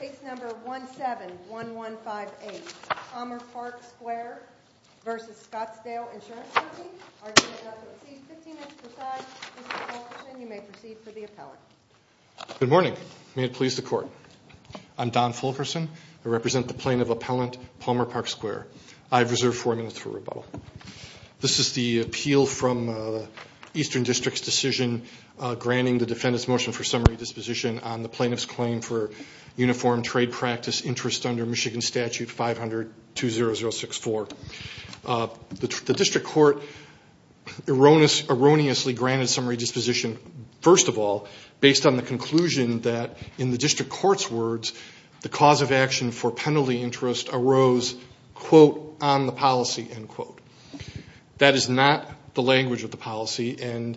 Case number 171158, Palmer Park Square v. Scottsdale Insurance Company. Argument does not exceed 15 minutes per side. Mr. Fulkerson, you may proceed for the appellant. Good morning. May it please the Court. I'm Don Fulkerson. I represent the plaintiff appellant, Palmer Park Square. I have reserved four minutes for rebuttal. This is the appeal from the Eastern District's decision granting the defendant's motion for summary disposition on the plaintiff's claim for uniform trade practice interest under Michigan Statute 500-20064. The District Court erroneously granted summary disposition, first of all, based on the conclusion that, in the District Court's words, the cause of action for penalty interest arose, quote, on the policy, end quote. That is not the language of the policy, and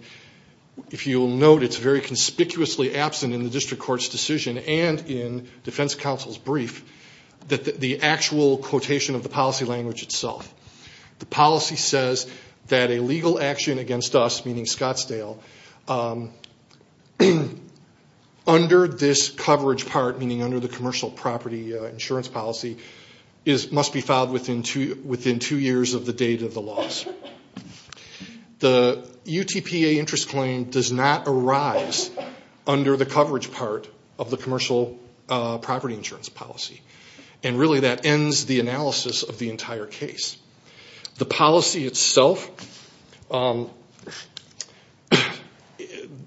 if you'll note, it's very conspicuously absent in the District Court's decision and in defense counsel's brief that the actual quotation of the policy language itself. The policy says that a legal action against us, meaning Scottsdale, under this coverage part, meaning under the commercial property insurance policy, must be filed within two years of the date of the loss. The UTPA interest claim does not arise under the coverage part of the commercial property insurance policy, and really that ends the analysis of the entire case. The policy itself,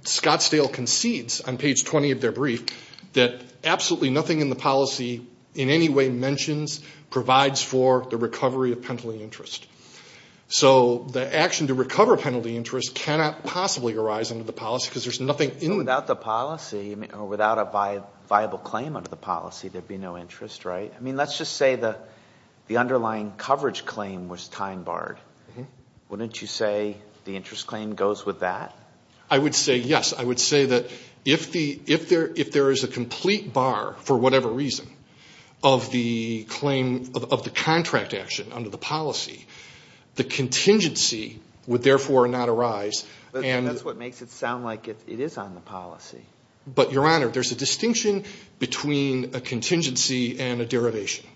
Scottsdale concedes on page 20 of their brief, that absolutely nothing in the policy in any way mentions, provides for the recovery of penalty interest. So the action to recover penalty interest cannot possibly arise under the policy because there's nothing in it. Without the policy, or without a viable claim under the policy, there'd be no interest, right? I mean, let's just say the underlying coverage claim was time barred. Wouldn't you say the interest claim goes with that? I would say yes. I would say that if there is a complete bar, for whatever reason, of the contract action under the policy, the contingency would therefore not arise. That's what makes it sound like it is on the policy. But, Your Honor, there's a distinction between a contingency and a derivation.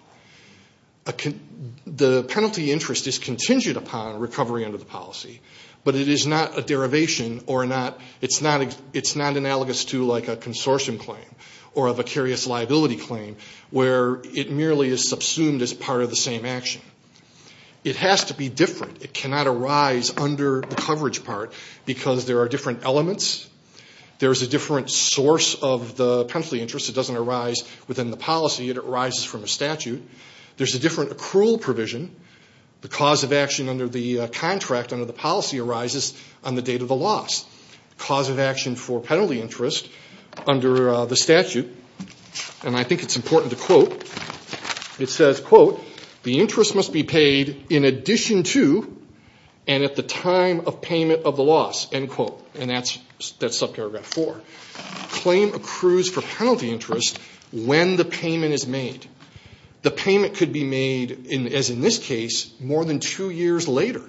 The penalty interest is contingent upon recovery under the policy, but it is not a derivation or it's not analogous to like a consortium claim or a vicarious liability claim where it merely is subsumed as part of the same action. It has to be different. It cannot arise under the coverage part because there are different elements. There is a different source of the penalty interest. It doesn't arise within the policy. It arises from a statute. There's a different accrual provision. The cause of action under the contract under the policy arises on the date of the loss. The cause of action for penalty interest under the statute, and I think it's important to quote, it says, quote, the interest must be paid in addition to and at the time of payment of the loss, end quote. And that's subparagraph four. Claim accrues for penalty interest when the payment is made. The payment could be made, as in this case, more than two years later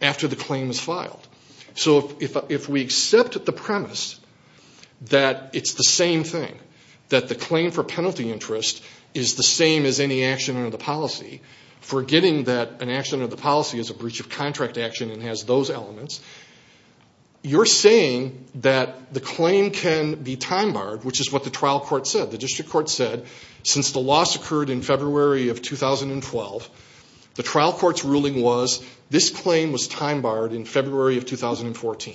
after the claim is filed. So if we accept the premise that it's the same thing, that the claim for penalty interest is the same as any action under the policy, forgetting that an action under the policy is a breach of contract action and has those elements, you're saying that the claim can be time barred, which is what the trial court said. The district court said since the loss occurred in February of 2012, the trial court's ruling was this claim was time barred in February of 2014.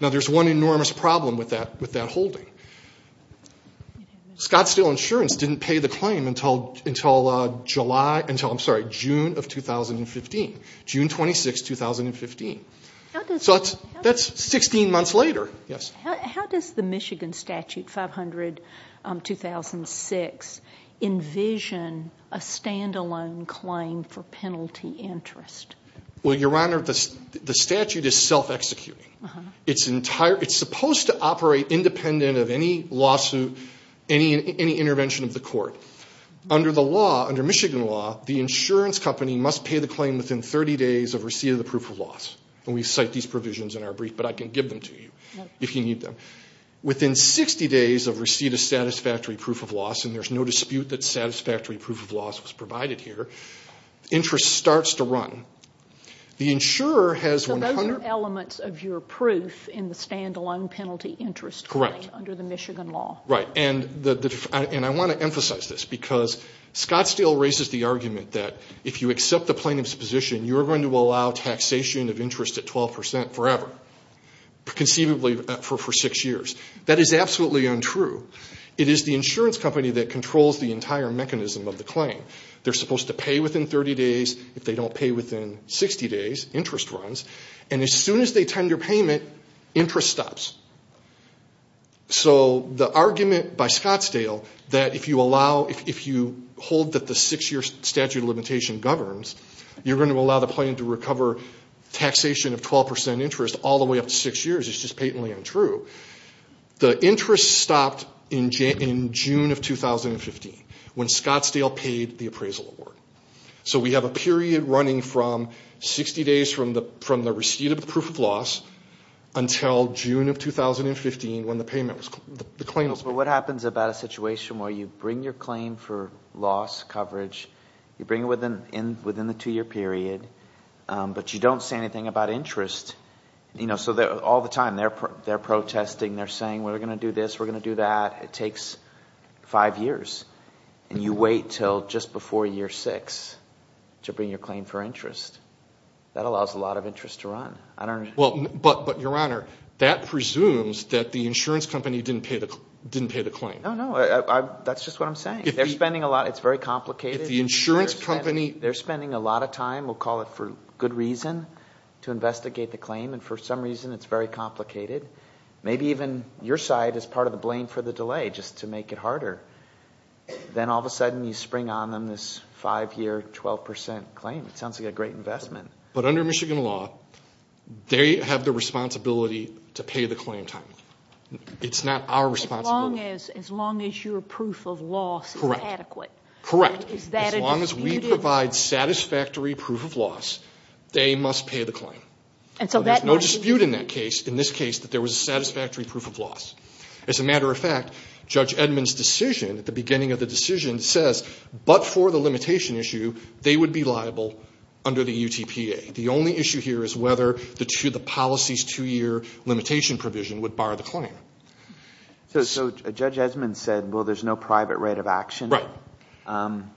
Now, there's one enormous problem with that holding. Scottsdale Insurance didn't pay the claim until June of 2015, June 26, 2015. So that's 16 months later. How does the Michigan Statute 500-2006 envision a standalone claim for penalty interest? Well, Your Honor, the statute is self-executing. It's supposed to operate independent of any lawsuit, any intervention of the court. Under Michigan law, the insurance company must pay the claim within 30 days of receipt of the proof of loss. And we cite these provisions in our brief, but I can give them to you if you need them. Within 60 days of receipt of satisfactory proof of loss, and there's no dispute that satisfactory proof of loss was provided here, interest starts to run. So those are elements of your proof in the standalone penalty interest claim under the Michigan law. Right, and I want to emphasize this because Scottsdale raises the argument that if you accept the plaintiff's position, you're going to allow taxation of interest at 12 percent forever, conceivably for six years. That is absolutely untrue. It is the insurance company that controls the entire mechanism of the claim. They're supposed to pay within 30 days. If they don't pay within 60 days, interest runs. And as soon as they tender payment, interest stops. So the argument by Scottsdale that if you hold that the six-year statute of limitation governs, you're going to allow the plaintiff to recover taxation of 12 percent interest all the way up to six years is just patently untrue. The interest stopped in June of 2015 when Scottsdale paid the appraisal award. So we have a period running from 60 days from the receipt of proof of loss until June of 2015 when the claim was paid. But what happens about a situation where you bring your claim for loss coverage, you bring it within the two-year period, but you don't say anything about interest? So all the time they're protesting, they're saying we're going to do this, we're going to do that. It takes five years. And you wait until just before year six to bring your claim for interest. That allows a lot of interest to run. I don't know. But, Your Honor, that presumes that the insurance company didn't pay the claim. No, no. That's just what I'm saying. They're spending a lot. It's very complicated. They're spending a lot of time, we'll call it for good reason, to investigate the claim. And for some reason it's very complicated. Maybe even your side is part of the blame for the delay just to make it harder. Then all of a sudden you spring on them this five-year, 12% claim. It sounds like a great investment. But under Michigan law, they have the responsibility to pay the claim timely. It's not our responsibility. As long as your proof of loss is adequate. Correct. As long as we provide satisfactory proof of loss, they must pay the claim. There's no dispute in this case that there was a satisfactory proof of loss. As a matter of fact, Judge Edmond's decision at the beginning of the decision says, but for the limitation issue, they would be liable under the UTPA. The only issue here is whether the policy's two-year limitation provision would bar the claim. So Judge Edmond said, well, there's no private right of action? Right.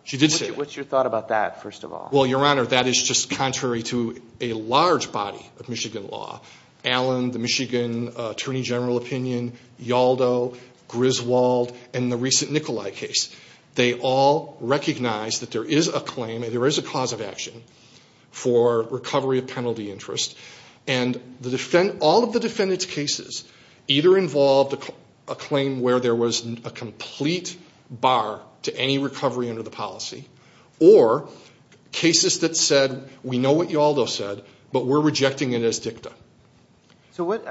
She did say that. What's your thought about that, first of all? Well, Your Honor, that is just contrary to a large body of Michigan law. Allen, the Michigan Attorney General opinion, Yaldo, Griswold, and the recent Nikolai case. They all recognize that there is a claim and there is a cause of action for recovery of penalty interest. And all of the defendant's cases either involved a claim where there was a complete bar to any recovery under the policy, or cases that said, we know what Yaldo said, but we're rejecting it as dicta. So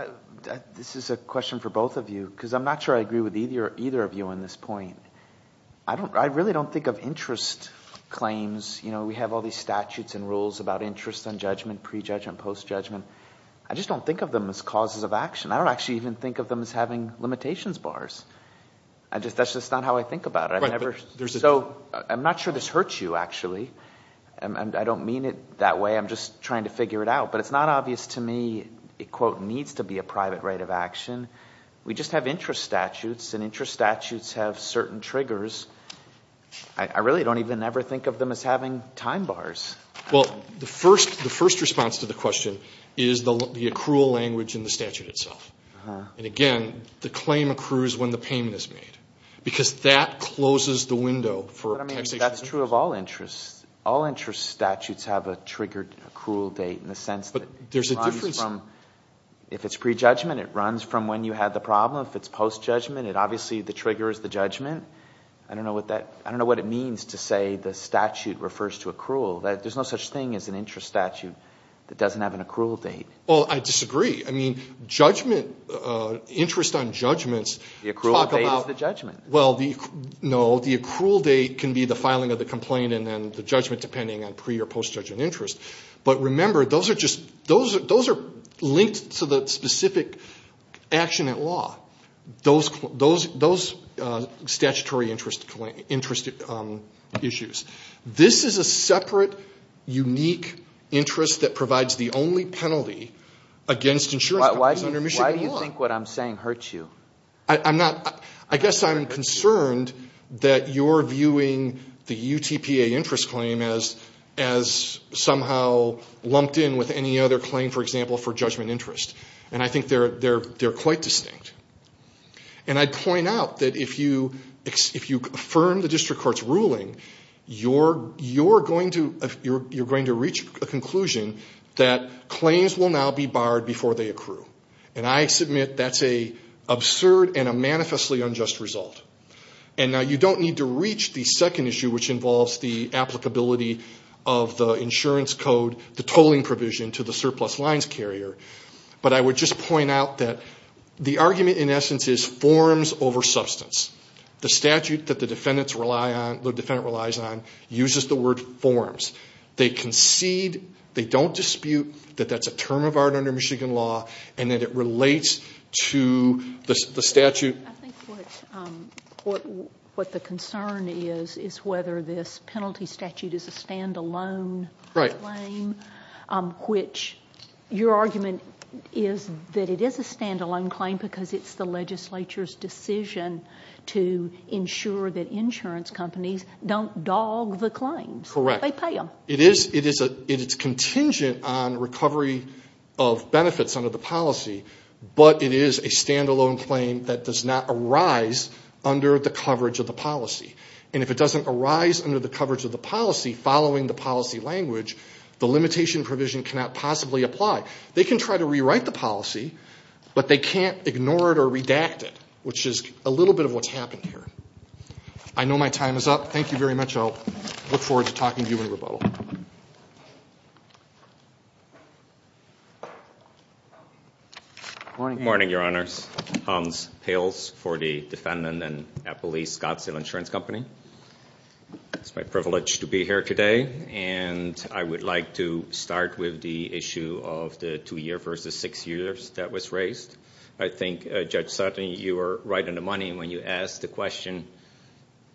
this is a question for both of you, because I'm not sure I agree with either of you on this point. I really don't think of interest claims. You know, we have all these statutes and rules about interest on judgment, pre-judgment, post-judgment. I just don't think of them as causes of action. I don't actually even think of them as having limitations bars. That's just not how I think about it. So I'm not sure this hurts you, actually. I don't mean it that way. I'm just trying to figure it out. But it's not obvious to me it, quote, needs to be a private right of action. We just have interest statutes, and interest statutes have certain triggers. I really don't even ever think of them as having time bars. Well, the first response to the question is the accrual language in the statute itself. And again, the claim accrues when the payment is made, because that closes the window for taxation. But, I mean, that's true of all interests. All interest statutes have a triggered accrual date in the sense that it runs from if it's pre-judgment, it runs from when you had the problem. If it's post-judgment, it obviously, the trigger is the judgment. I don't know what it means to say the statute refers to accrual. There's no such thing as an interest statute that doesn't have an accrual date. Well, I disagree. I mean, judgment, interest on judgments. The accrual date is the judgment. Well, no, the accrual date can be the filing of the complaint and then the judgment, depending on pre- or post-judgment interest. But remember, those are linked to the specific action at law. Those statutory interest issues. This is a separate, unique interest that provides the only penalty against insurance companies under Michigan law. Why do you think what I'm saying hurts you? I guess I'm concerned that you're viewing the UTPA interest claim as somehow lumped in with any other claim, for example, for judgment interest. And I think they're quite distinct. And I'd point out that if you affirm the district court's ruling, you're going to reach a conclusion that claims will now be barred before they accrue. And I submit that's an absurd and a manifestly unjust result. And now you don't need to reach the second issue, which involves the applicability of the insurance code, the tolling provision to the surplus lines carrier. But I would just point out that the argument, in essence, is forms over substance. The statute that the defendant relies on uses the word forms. They concede, they don't dispute that that's a term of art under Michigan law and that it relates to the statute. I think what the concern is is whether this penalty statute is a stand-alone claim, which your argument is that it is a stand-alone claim because it's the legislature's decision to ensure that insurance companies don't dog the claims. Correct. They pay them. It is contingent on recovery of benefits under the policy, but it is a stand-alone claim that does not arise under the coverage of the policy. And if it doesn't arise under the coverage of the policy following the policy language, the limitation provision cannot possibly apply. They can try to rewrite the policy, but they can't ignore it or redact it, which is a little bit of what's happened here. I know my time is up. Thank you very much. I look forward to talking to you in rebuttal. Morning, Your Honors. Hans Pils for the defendant and police Scottsdale Insurance Company. It's my privilege to be here today, and I would like to start with the issue of the two-year versus six years that was raised. I think, Judge Sutton, you were right on the money when you asked the question,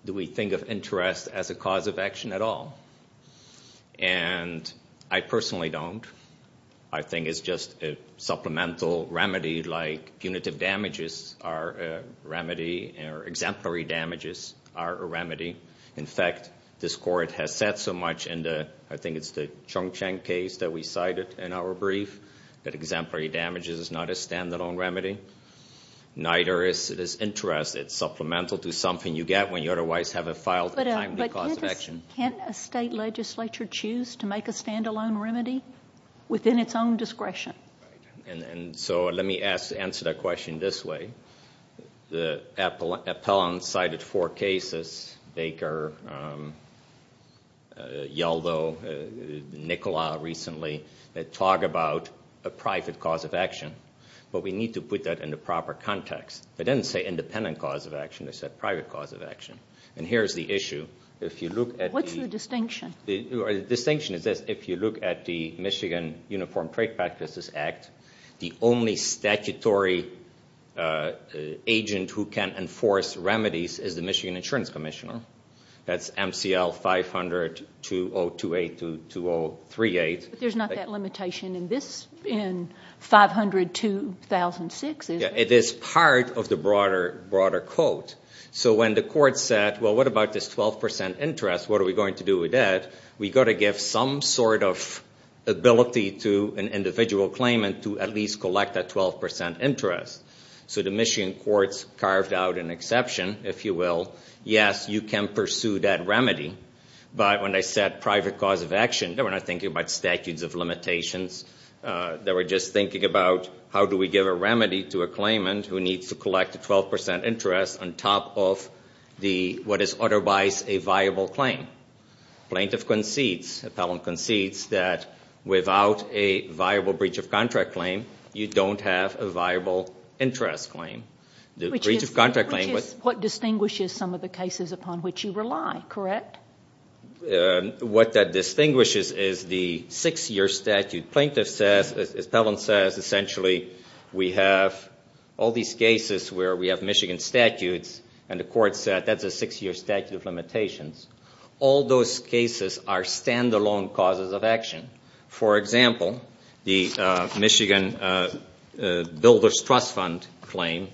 do we think of interest as a cause of action at all? And I personally don't. I think it's just a supplemental remedy, like punitive damages are a remedy or exemplary damages are a remedy. In fact, this Court has said so much, and I think it's the Chong Cheng case that we cited in our brief, that exemplary damages is not a stand-alone remedy. Neither is interest. It's supplemental to something you get when you otherwise have a filed a timely cause of action. But can't a state legislature choose to make a stand-alone remedy within its own discretion? And so let me answer that question this way. The appellant cited four cases, Baker, Yaldo, Nicola recently, that talk about a private cause of action. But we need to put that in the proper context. They didn't say independent cause of action, they said private cause of action. And here's the issue. What's the distinction? The distinction is that if you look at the Michigan Uniform Trade Practices Act, the only statutory agent who can enforce remedies is the Michigan Insurance Commissioner. That's MCL 500-2028-2038. But there's not that limitation in 500-2006, is there? It is part of the broader quote. So when the court said, well, what about this 12% interest, what are we going to do with that, we've got to give some sort of ability to an individual claimant to at least collect that 12% interest. So the Michigan courts carved out an exception, if you will. Yes, you can pursue that remedy. But when they said private cause of action, they were not thinking about statutes of limitations. They were just thinking about how do we give a remedy to a claimant who needs to collect a 12% interest on top of what is otherwise a viable claim. Plaintiff concedes, appellant concedes that without a viable breach of contract claim, you don't have a viable interest claim. Which is what distinguishes some of the cases upon which you rely, correct? What that distinguishes is the six-year statute. Plaintiff says, appellant says essentially we have all these cases where we have Michigan statutes, and the court said that's a six-year statute of limitations. All those cases are stand-alone causes of action. For example, the Michigan Builders Trust Fund claim,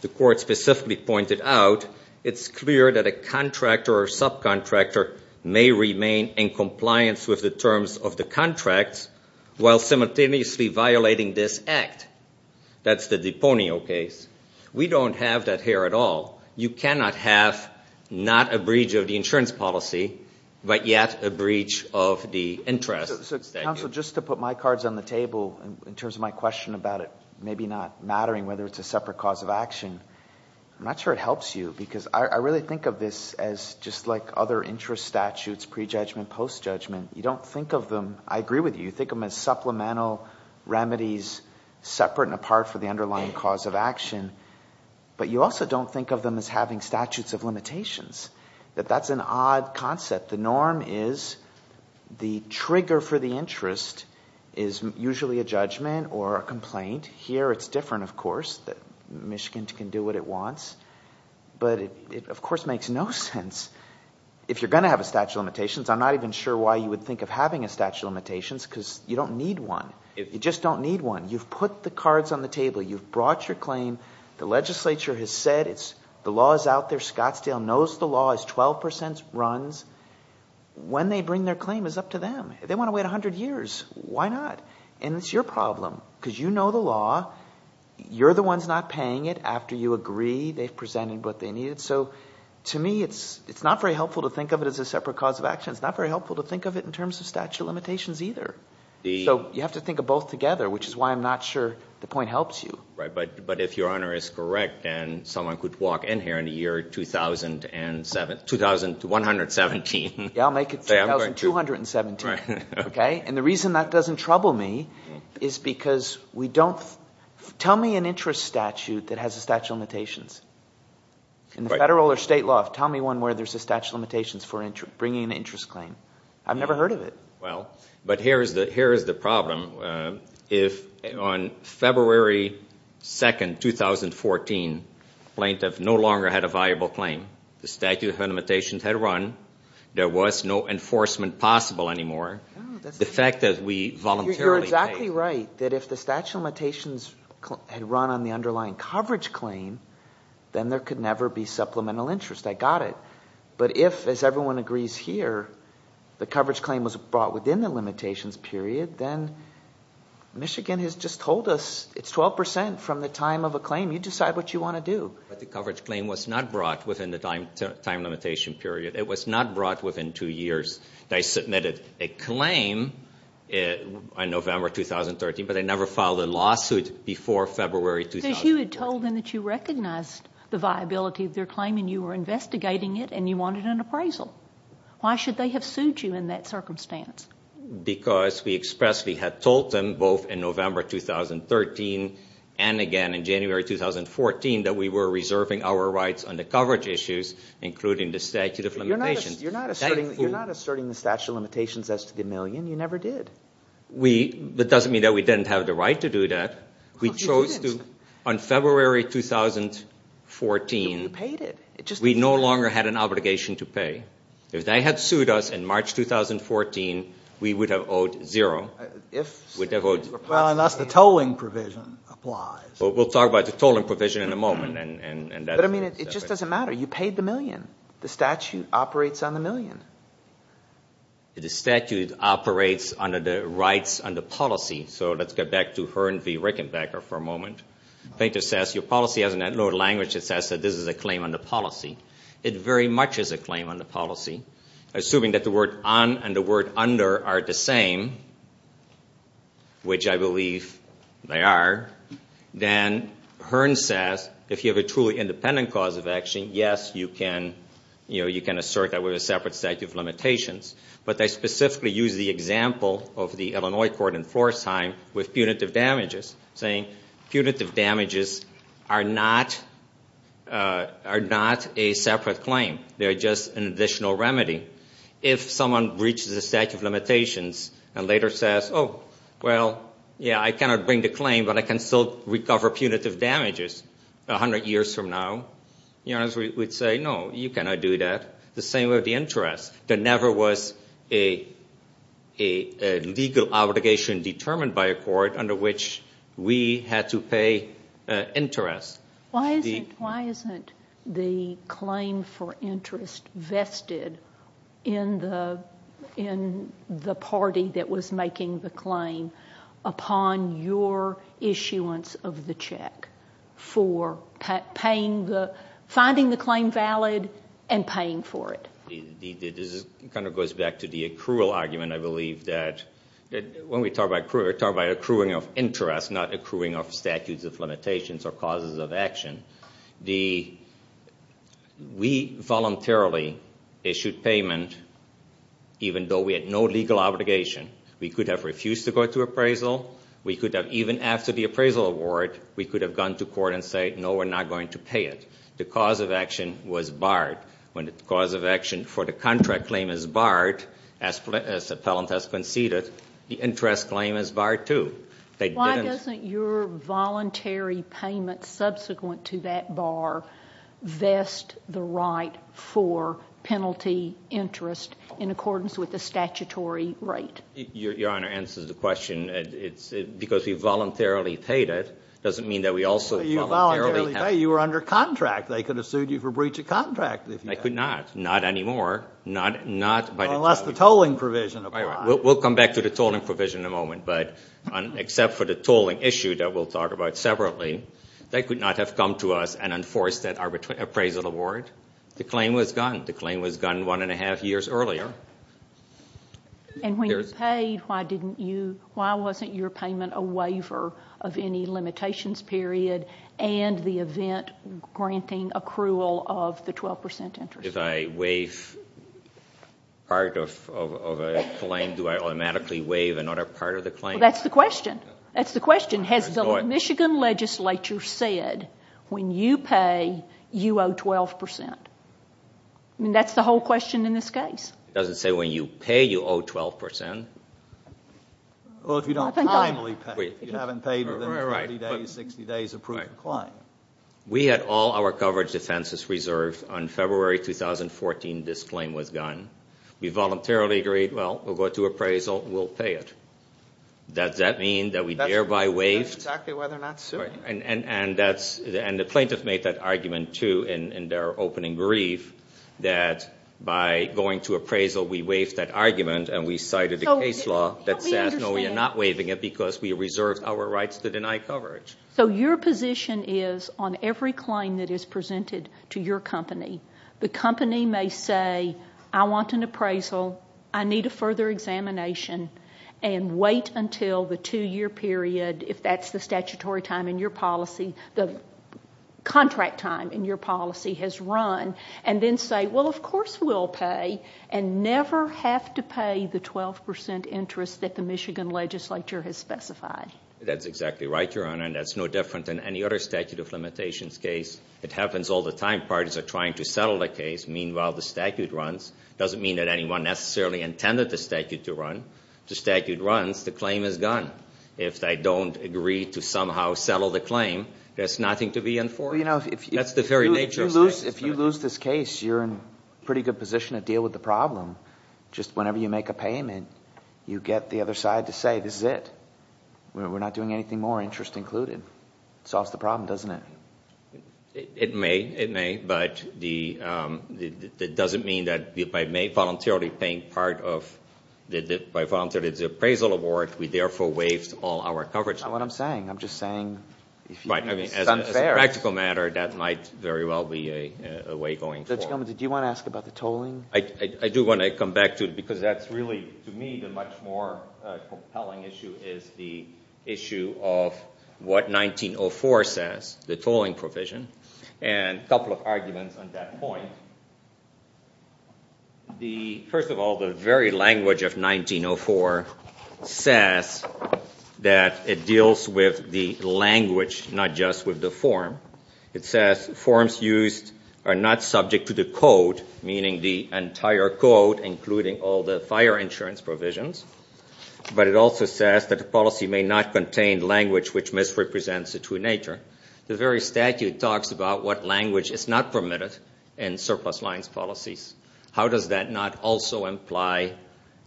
the court specifically pointed out, it's clear that a contractor or subcontractor may remain in compliance with the terms of the contracts while simultaneously violating this act. That's the Deponio case. We don't have that here at all. You cannot have not a breach of the insurance policy, but yet a breach of the interest. Counsel, just to put my cards on the table in terms of my question about it maybe not mattering whether it's a separate cause of action, I'm not sure it helps you because I really think of this as just like other interest statutes, pre-judgment, post-judgment. You don't think of them. I agree with you. You think of them as supplemental remedies separate and apart from the underlying cause of action, but you also don't think of them as having statutes of limitations. That's an odd concept. The norm is the trigger for the interest is usually a judgment or a complaint. Here it's different, of course. Michigan can do what it wants, but it, of course, makes no sense. If you're going to have a statute of limitations, I'm not even sure why you would think of having a statute of limitations because you don't need one. You've put the cards on the table. You've brought your claim. The legislature has said the law is out there. Scottsdale knows the law. It's 12% runs. When they bring their claim is up to them. They want to wait 100 years. Why not? And it's your problem because you know the law. You're the ones not paying it. After you agree, they've presented what they need. So to me, it's not very helpful to think of it as a separate cause of action. It's not very helpful to think of it in terms of statute of limitations either. So you have to think of both together, which is why I'm not sure the point helps you. But if Your Honor is correct and someone could walk in here in the year 2117. Yeah, I'll make it 2217. And the reason that doesn't trouble me is because we don't – tell me an interest statute that has a statute of limitations. In the federal or state law, tell me one where there's a statute of limitations for bringing an interest claim. I've never heard of it. Well, but here is the problem. If on February 2, 2014, plaintiff no longer had a viable claim. The statute of limitations had run. There was no enforcement possible anymore. The fact that we voluntarily paid. You're exactly right that if the statute of limitations had run on the underlying coverage claim, then there could never be supplemental interest. I got it. But if, as everyone agrees here, the coverage claim was brought within the limitations period, then Michigan has just told us it's 12% from the time of a claim. You decide what you want to do. But the coverage claim was not brought within the time limitation period. It was not brought within two years. I submitted a claim in November 2013, but I never filed a lawsuit before February 2014. So you had told them that you recognized the viability of their claim and you were investigating it and you wanted an appraisal. Why should they have sued you in that circumstance? Because we expressly had told them, both in November 2013 and again in January 2014, that we were reserving our rights on the coverage issues, including the statute of limitations. You're not asserting the statute of limitations as to the million. You never did. That doesn't mean that we didn't have the right to do that. We chose to, on February 2014. But you paid it. We no longer had an obligation to pay. If they had sued us in March 2014, we would have owed zero. Well, unless the tolling provision applies. We'll talk about the tolling provision in a moment. But, I mean, it just doesn't matter. You paid the million. The statute operates on the million. The statute operates under the rights on the policy. So let's get back to Hearn v. Rickenbacker for a moment. Painter says, your policy has no language that says that this is a claim on the policy. It very much is a claim on the policy. Assuming that the word on and the word under are the same, which I believe they are, then Hearn says, if you have a truly independent cause of action, yes, you can assert that we have a separate statute of limitations. But they specifically use the example of the Illinois court in Pforzheim with punitive damages, saying punitive damages are not a separate claim. They are just an additional remedy. If someone breaches the statute of limitations and later says, oh, well, yeah, I cannot bring the claim, but I can still recover punitive damages 100 years from now, Hearn would say, no, you cannot do that. The same with the interest. There never was a legal obligation determined by a court under which we had to pay interest. Why isn't the claim for interest vested in the party that was making the claim upon your issuance of the check for finding the claim valid and paying for it? This kind of goes back to the accrual argument, I believe, that when we talk about accruing of interest, not accruing of statutes of limitations or causes of action, we voluntarily issued payment even though we had no legal obligation. We could have refused to go to appraisal. We could have, even after the appraisal award, we could have gone to court and said, no, we're not going to pay it. The cause of action was barred. When the cause of action for the contract claim is barred, as the appellant has conceded, the interest claim is barred, too. Why doesn't your voluntary payment subsequent to that bar vest the right for penalty interest in accordance with the statutory rate? Your Honor answers the question. Because we voluntarily paid it doesn't mean that we also voluntarily have to. You voluntarily pay. You were under contract. They could have sued you for breach of contract. They could not. Not anymore. Unless the tolling provision applies. We'll come back to the tolling provision in a moment. But except for the tolling issue that we'll talk about separately, they could not have come to us and enforced that appraisal award. The claim was gone. The claim was gone one and a half years earlier. And when you paid, why wasn't your payment a waiver of any limitations period and the event granting accrual of the 12% interest? If I waive part of a claim, do I automatically waive another part of the claim? Well, that's the question. That's the question. Has the Michigan legislature said when you pay, you owe 12%? I mean, that's the whole question in this case. It doesn't say when you pay, you owe 12%. Well, if you don't timely pay. If you haven't paid within 30 days, 60 days of proof of claim. We had all our coverage defenses reserved. On February 2014, this claim was gone. We voluntarily agreed, well, we'll go to appraisal, we'll pay it. Does that mean that we thereby waived? That's exactly why they're not suing you. And the plaintiff made that argument, too, in their opening brief, that by going to appraisal, we waived that argument and we cited a case law that says, no, we are not waiving it because we reserved our rights to deny coverage. So your position is on every claim that is presented to your company, the company may say, I want an appraisal, I need a further examination, and wait until the two-year period, if that's the statutory time in your policy, the contract time in your policy has run, and then say, well, of course we'll pay, and never have to pay the 12% interest that the Michigan legislature has specified. That's exactly right, Your Honor, and that's no different than any other statute of limitations case. It happens all the time. Parties are trying to settle the case. Meanwhile, the statute runs. It doesn't mean that anyone necessarily intended the statute to run. The statute runs. The claim is gone. If they don't agree to somehow settle the claim, there's nothing to be enforced. That's the very nature of the statute. If you lose this case, you're in a pretty good position to deal with the problem. Just whenever you make a payment, you get the other side to say, this is it. We're not doing anything more, interest included. It solves the problem, doesn't it? It may. It may. But that doesn't mean that by voluntarily paying part of the appraisal award, we therefore waived all our coverage. That's not what I'm saying. I'm just saying it's unfair. As a practical matter, that might very well be a way going forward. Judge Gomez, did you want to ask about the tolling? I do want to come back to it because that's really, to me, the much more compelling issue is the issue of what 1904 says, the tolling provision, and a couple of arguments on that point. First of all, the very language of 1904 says that it deals with the language, not just with the form. It says forms used are not subject to the code, meaning the entire code, including all the fire insurance provisions. But it also says that the policy may not contain language which misrepresents the true nature. The very statute talks about what language is not permitted in surplus lines policies. How does that not also imply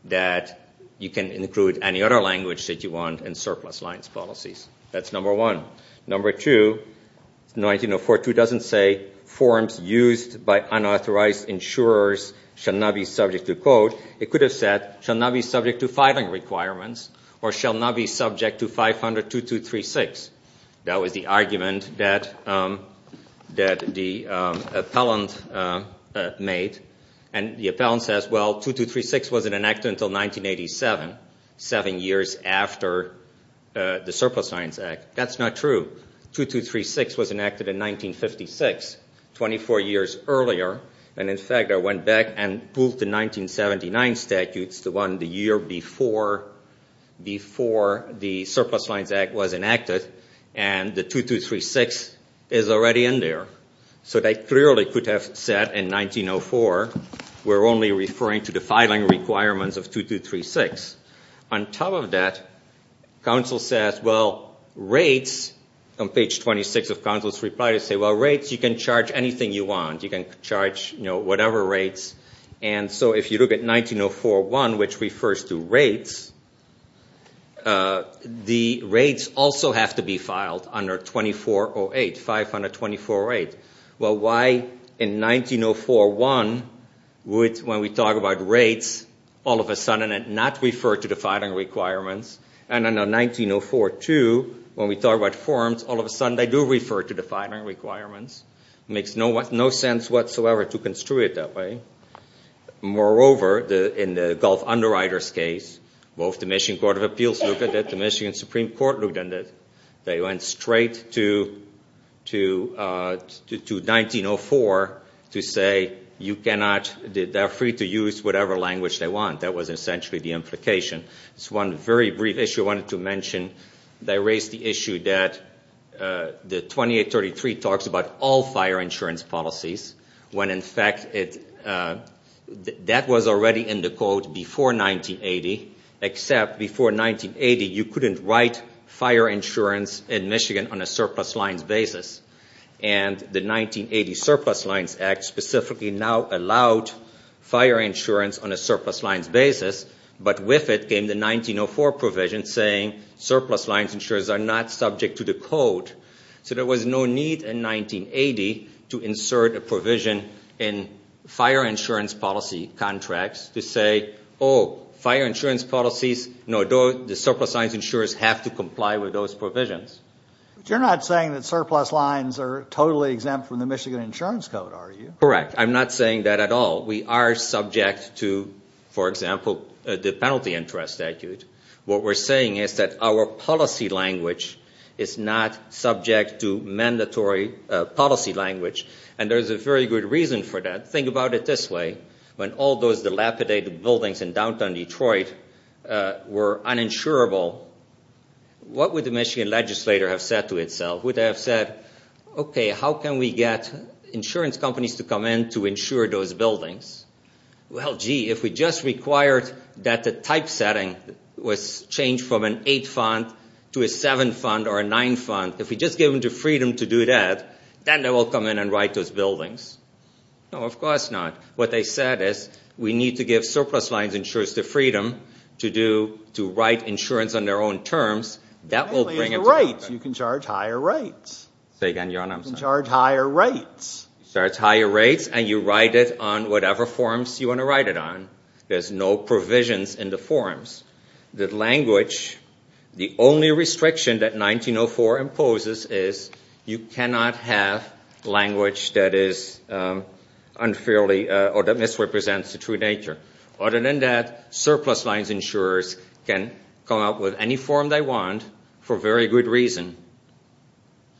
that you can include any other language that you want in surplus lines policies? That's number one. Number two, 1904 doesn't say forms used by unauthorized insurers shall not be subject to code. It could have said shall not be subject to filing requirements or shall not be subject to 500.2236. That was the argument that the appellant made. The appellant says, well, 2236 wasn't enacted until 1987, seven years after the Surplus Lines Act. That's not true. 2236 was enacted in 1956, 24 years earlier. In fact, I went back and pulled the 1979 statute, the one the year before the Surplus Lines Act was enacted, and the 2236 is already in there. So they clearly could have said in 1904, we're only referring to the filing requirements of 2236. On top of that, counsel says, well, rates, on page 26 of counsel's reply, they say, well, rates, you can charge anything you want. You can charge whatever rates. And so if you look at 1904.1, which refers to rates, the rates also have to be filed under 24.08, 524.08. Well, why in 1904.1, when we talk about rates, all of a sudden it not referred to the filing requirements, and in 1904.2, when we talk about forms, all of a sudden they do refer to the filing requirements. It makes no sense whatsoever to construe it that way. Moreover, in the Gulf Underwriters case, both the Michigan Court of Appeals looked at it, the Michigan Supreme Court looked at it. They went straight to 1904 to say you cannot, they're free to use whatever language they want. That was essentially the implication. There's one very brief issue I wanted to mention. They raised the issue that the 2833 talks about all fire insurance policies, when, in fact, that was already in the code before 1980, except before 1980 you couldn't write fire insurance in Michigan on a surplus lines basis. And the 1980 Surplus Lines Act specifically now allowed fire insurance on a surplus lines basis, but with it came the 1904 provision saying surplus lines insurers are not subject to the code. So there was no need in 1980 to insert a provision in fire insurance policy contracts to say, oh, fire insurance policies, no, the surplus lines insurers have to comply with those provisions. But you're not saying that surplus lines are totally exempt from the Michigan Insurance Code, are you? Correct. I'm not saying that at all. We are subject to, for example, the penalty interest statute. What we're saying is that our policy language is not subject to mandatory policy language, and there's a very good reason for that. Think about it this way. When all those dilapidated buildings in downtown Detroit were uninsurable, what would the Michigan legislator have said to itself? Would they have said, okay, how can we get insurance companies to come in to insure those buildings? Well, gee, if we just required that the typesetting was changed from an eight fund to a seven fund or a nine fund, if we just gave them the freedom to do that, then they will come in and write those buildings. No, of course not. What they said is we need to give surplus lines insurers the freedom to write insurance on their own terms. That will bring it to market. You can charge higher rates. Say that again, John. I'm sorry. You can charge higher rates. You charge higher rates, and you write it on whatever forms you want to write it on. There's no provisions in the forms. The language, the only restriction that 1904 imposes is you cannot have language that is unfairly or that misrepresents the true nature. Other than that, surplus lines insurers can come up with any form they want for very good reason,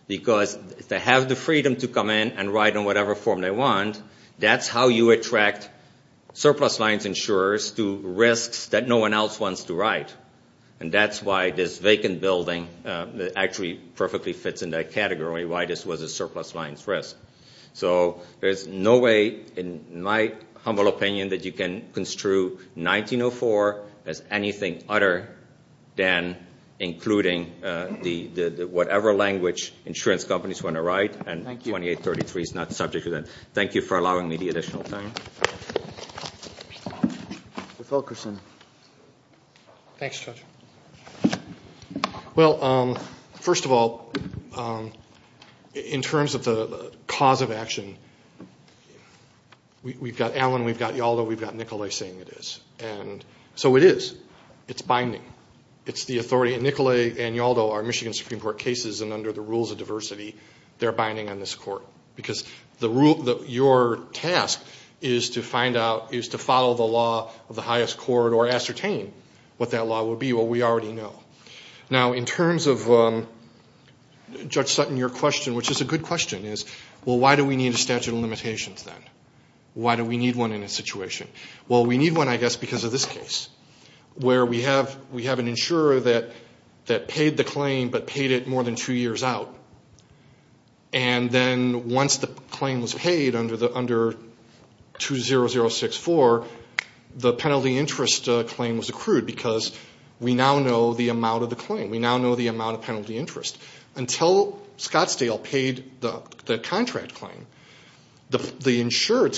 because if they have the freedom to come in and write on whatever form they want, that's how you attract surplus lines insurers to risks that no one else wants to write. And that's why this vacant building actually perfectly fits in that category, why this was a surplus lines risk. So there's no way, in my humble opinion, that you can construe 1904 as anything other than including whatever language insurance companies want to write, and 2833 is not the subject of that. So thank you for allowing me the additional time. Mr. Fulkerson. Thanks, Judge. Well, first of all, in terms of the cause of action, we've got Allen, we've got Yalda, we've got Nicolay saying it is. And so it is. It's binding. It's the authority, and Nicolay and Yalda are Michigan Supreme Court cases, and under the rules of diversity, they're binding on this court, because your task is to find out, is to follow the law of the highest court or ascertain what that law will be, what we already know. Now, in terms of, Judge Sutton, your question, which is a good question, is, well, why do we need a statute of limitations then? Why do we need one in this situation? Well, we need one, I guess, because of this case, where we have an insurer that paid the claim but paid it more than two years out. And then once the claim was paid under 20064, the penalty interest claim was accrued, because we now know the amount of the claim. We now know the amount of penalty interest. Until Scottsdale paid the contract claim, the insurer,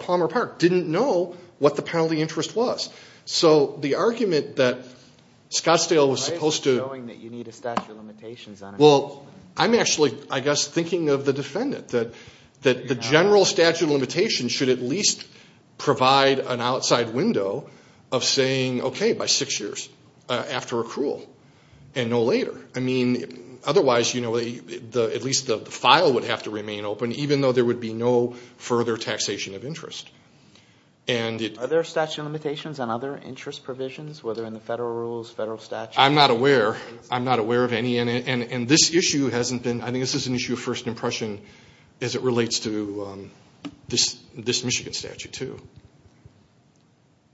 Palmer Park, didn't know what the penalty interest was. So the argument that Scottsdale was supposed to – Why is it showing that you need a statute of limitations on it? Well, I'm actually, I guess, thinking of the defendant, that the general statute of limitations should at least provide an outside window of saying, okay, by six years after accrual and no later. I mean, otherwise, you know, at least the file would have to remain open, even though there would be no further taxation of interest. Are there statute of limitations on other interest provisions, whether in the federal rules, federal statute? I'm not aware. I'm not aware of any. And this issue hasn't been – I think this is an issue of first impression as it relates to this Michigan statute, too.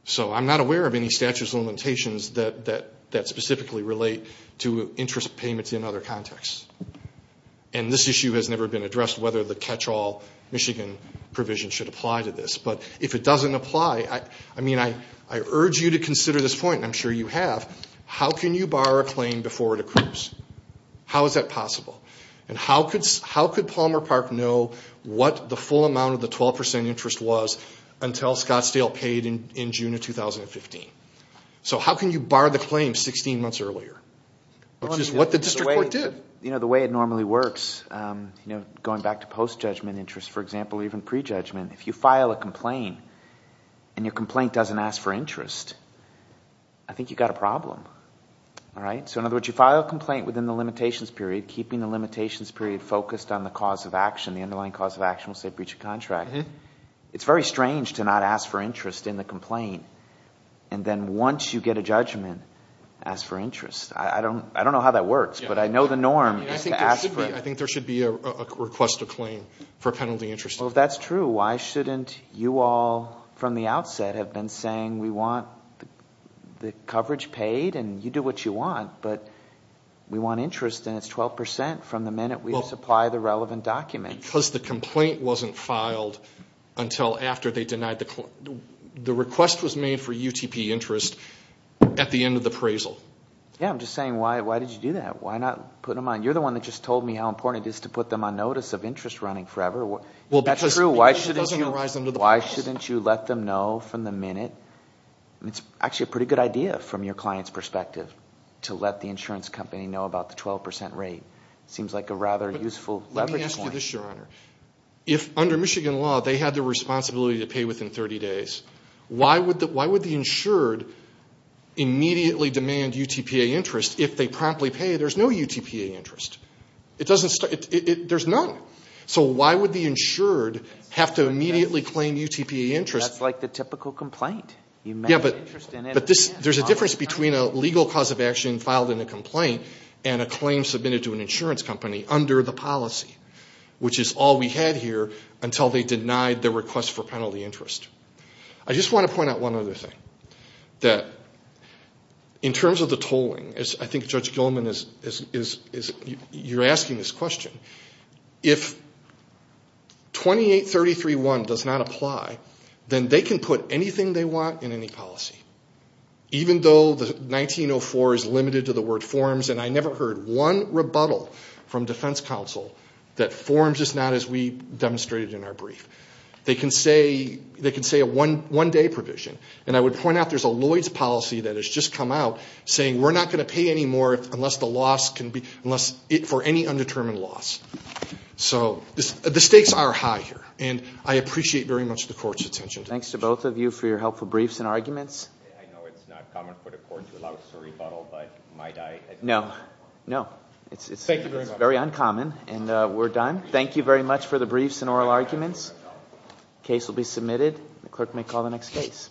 So I'm not aware of any statute of limitations that specifically relate to interest payments in other contexts. And this issue has never been addressed, whether the catch-all Michigan provision should apply to this. But if it doesn't apply, I mean, I urge you to consider this point, and I'm sure you have. How can you bar a claim before it accrues? How is that possible? And how could Palmer Park know what the full amount of the 12% interest was until Scottsdale paid in June of 2015? So how can you bar the claim 16 months earlier? Which is what the district court did. The way it normally works, going back to post-judgment interest, for example, even pre-judgment, if you file a complaint and your complaint doesn't ask for interest, I think you've got a problem. So in other words, you file a complaint within the limitations period, keeping the limitations period focused on the cause of action, the underlying cause of action, we'll say breach of contract. It's very strange to not ask for interest in the complaint, and then once you get a judgment, ask for interest. I don't know how that works, but I know the norm is to ask for it. I think there should be a request to claim for a penalty interest. Well, that's true. Why shouldn't you all from the outset have been saying we want the coverage paid, and you do what you want, but we want interest, and it's 12% from the minute we supply the relevant document. Because the complaint wasn't filed until after they denied the claim. The request was made for UTP interest at the end of the appraisal. Yeah, I'm just saying why did you do that? You're the one that just told me how important it is to put them on notice of interest running forever. That's true. Why shouldn't you let them know from the minute? It's actually a pretty good idea from your client's perspective to let the insurance company know about the 12% rate. Let me ask you this, Your Honor. If under Michigan law they had the responsibility to pay within 30 days, why would the insured immediately demand UTP interest if they promptly pay? There's no UTP interest. There's none. So why would the insured have to immediately claim UTP interest? That's like the typical complaint. Yeah, but there's a difference between a legal cause of action filed in a complaint and a claim submitted to an insurance company under the policy, which is all we had here until they denied the request for penalty interest. I just want to point out one other thing. In terms of the tolling, I think Judge Gilman, you're asking this question. If 2833-1 does not apply, then they can put anything they want in any policy. Even though 1904 is limited to the word forms, and I never heard one rebuttal from defense counsel that forms is not as we demonstrated in our brief. They can say a one-day provision, and I would point out there's a Lloyds policy that has just come out saying we're not going to pay any more for any undetermined loss. So the stakes are high here, and I appreciate very much the court's attention to this issue. Thank you to both of you for your helpful briefs and arguments. I know it's not common for the court to allow us to rebuttal, but might I? No, no. Thank you very much. It's very uncommon, and we're done. Thank you very much for the briefs and oral arguments. The case will be submitted. The clerk may call the next case.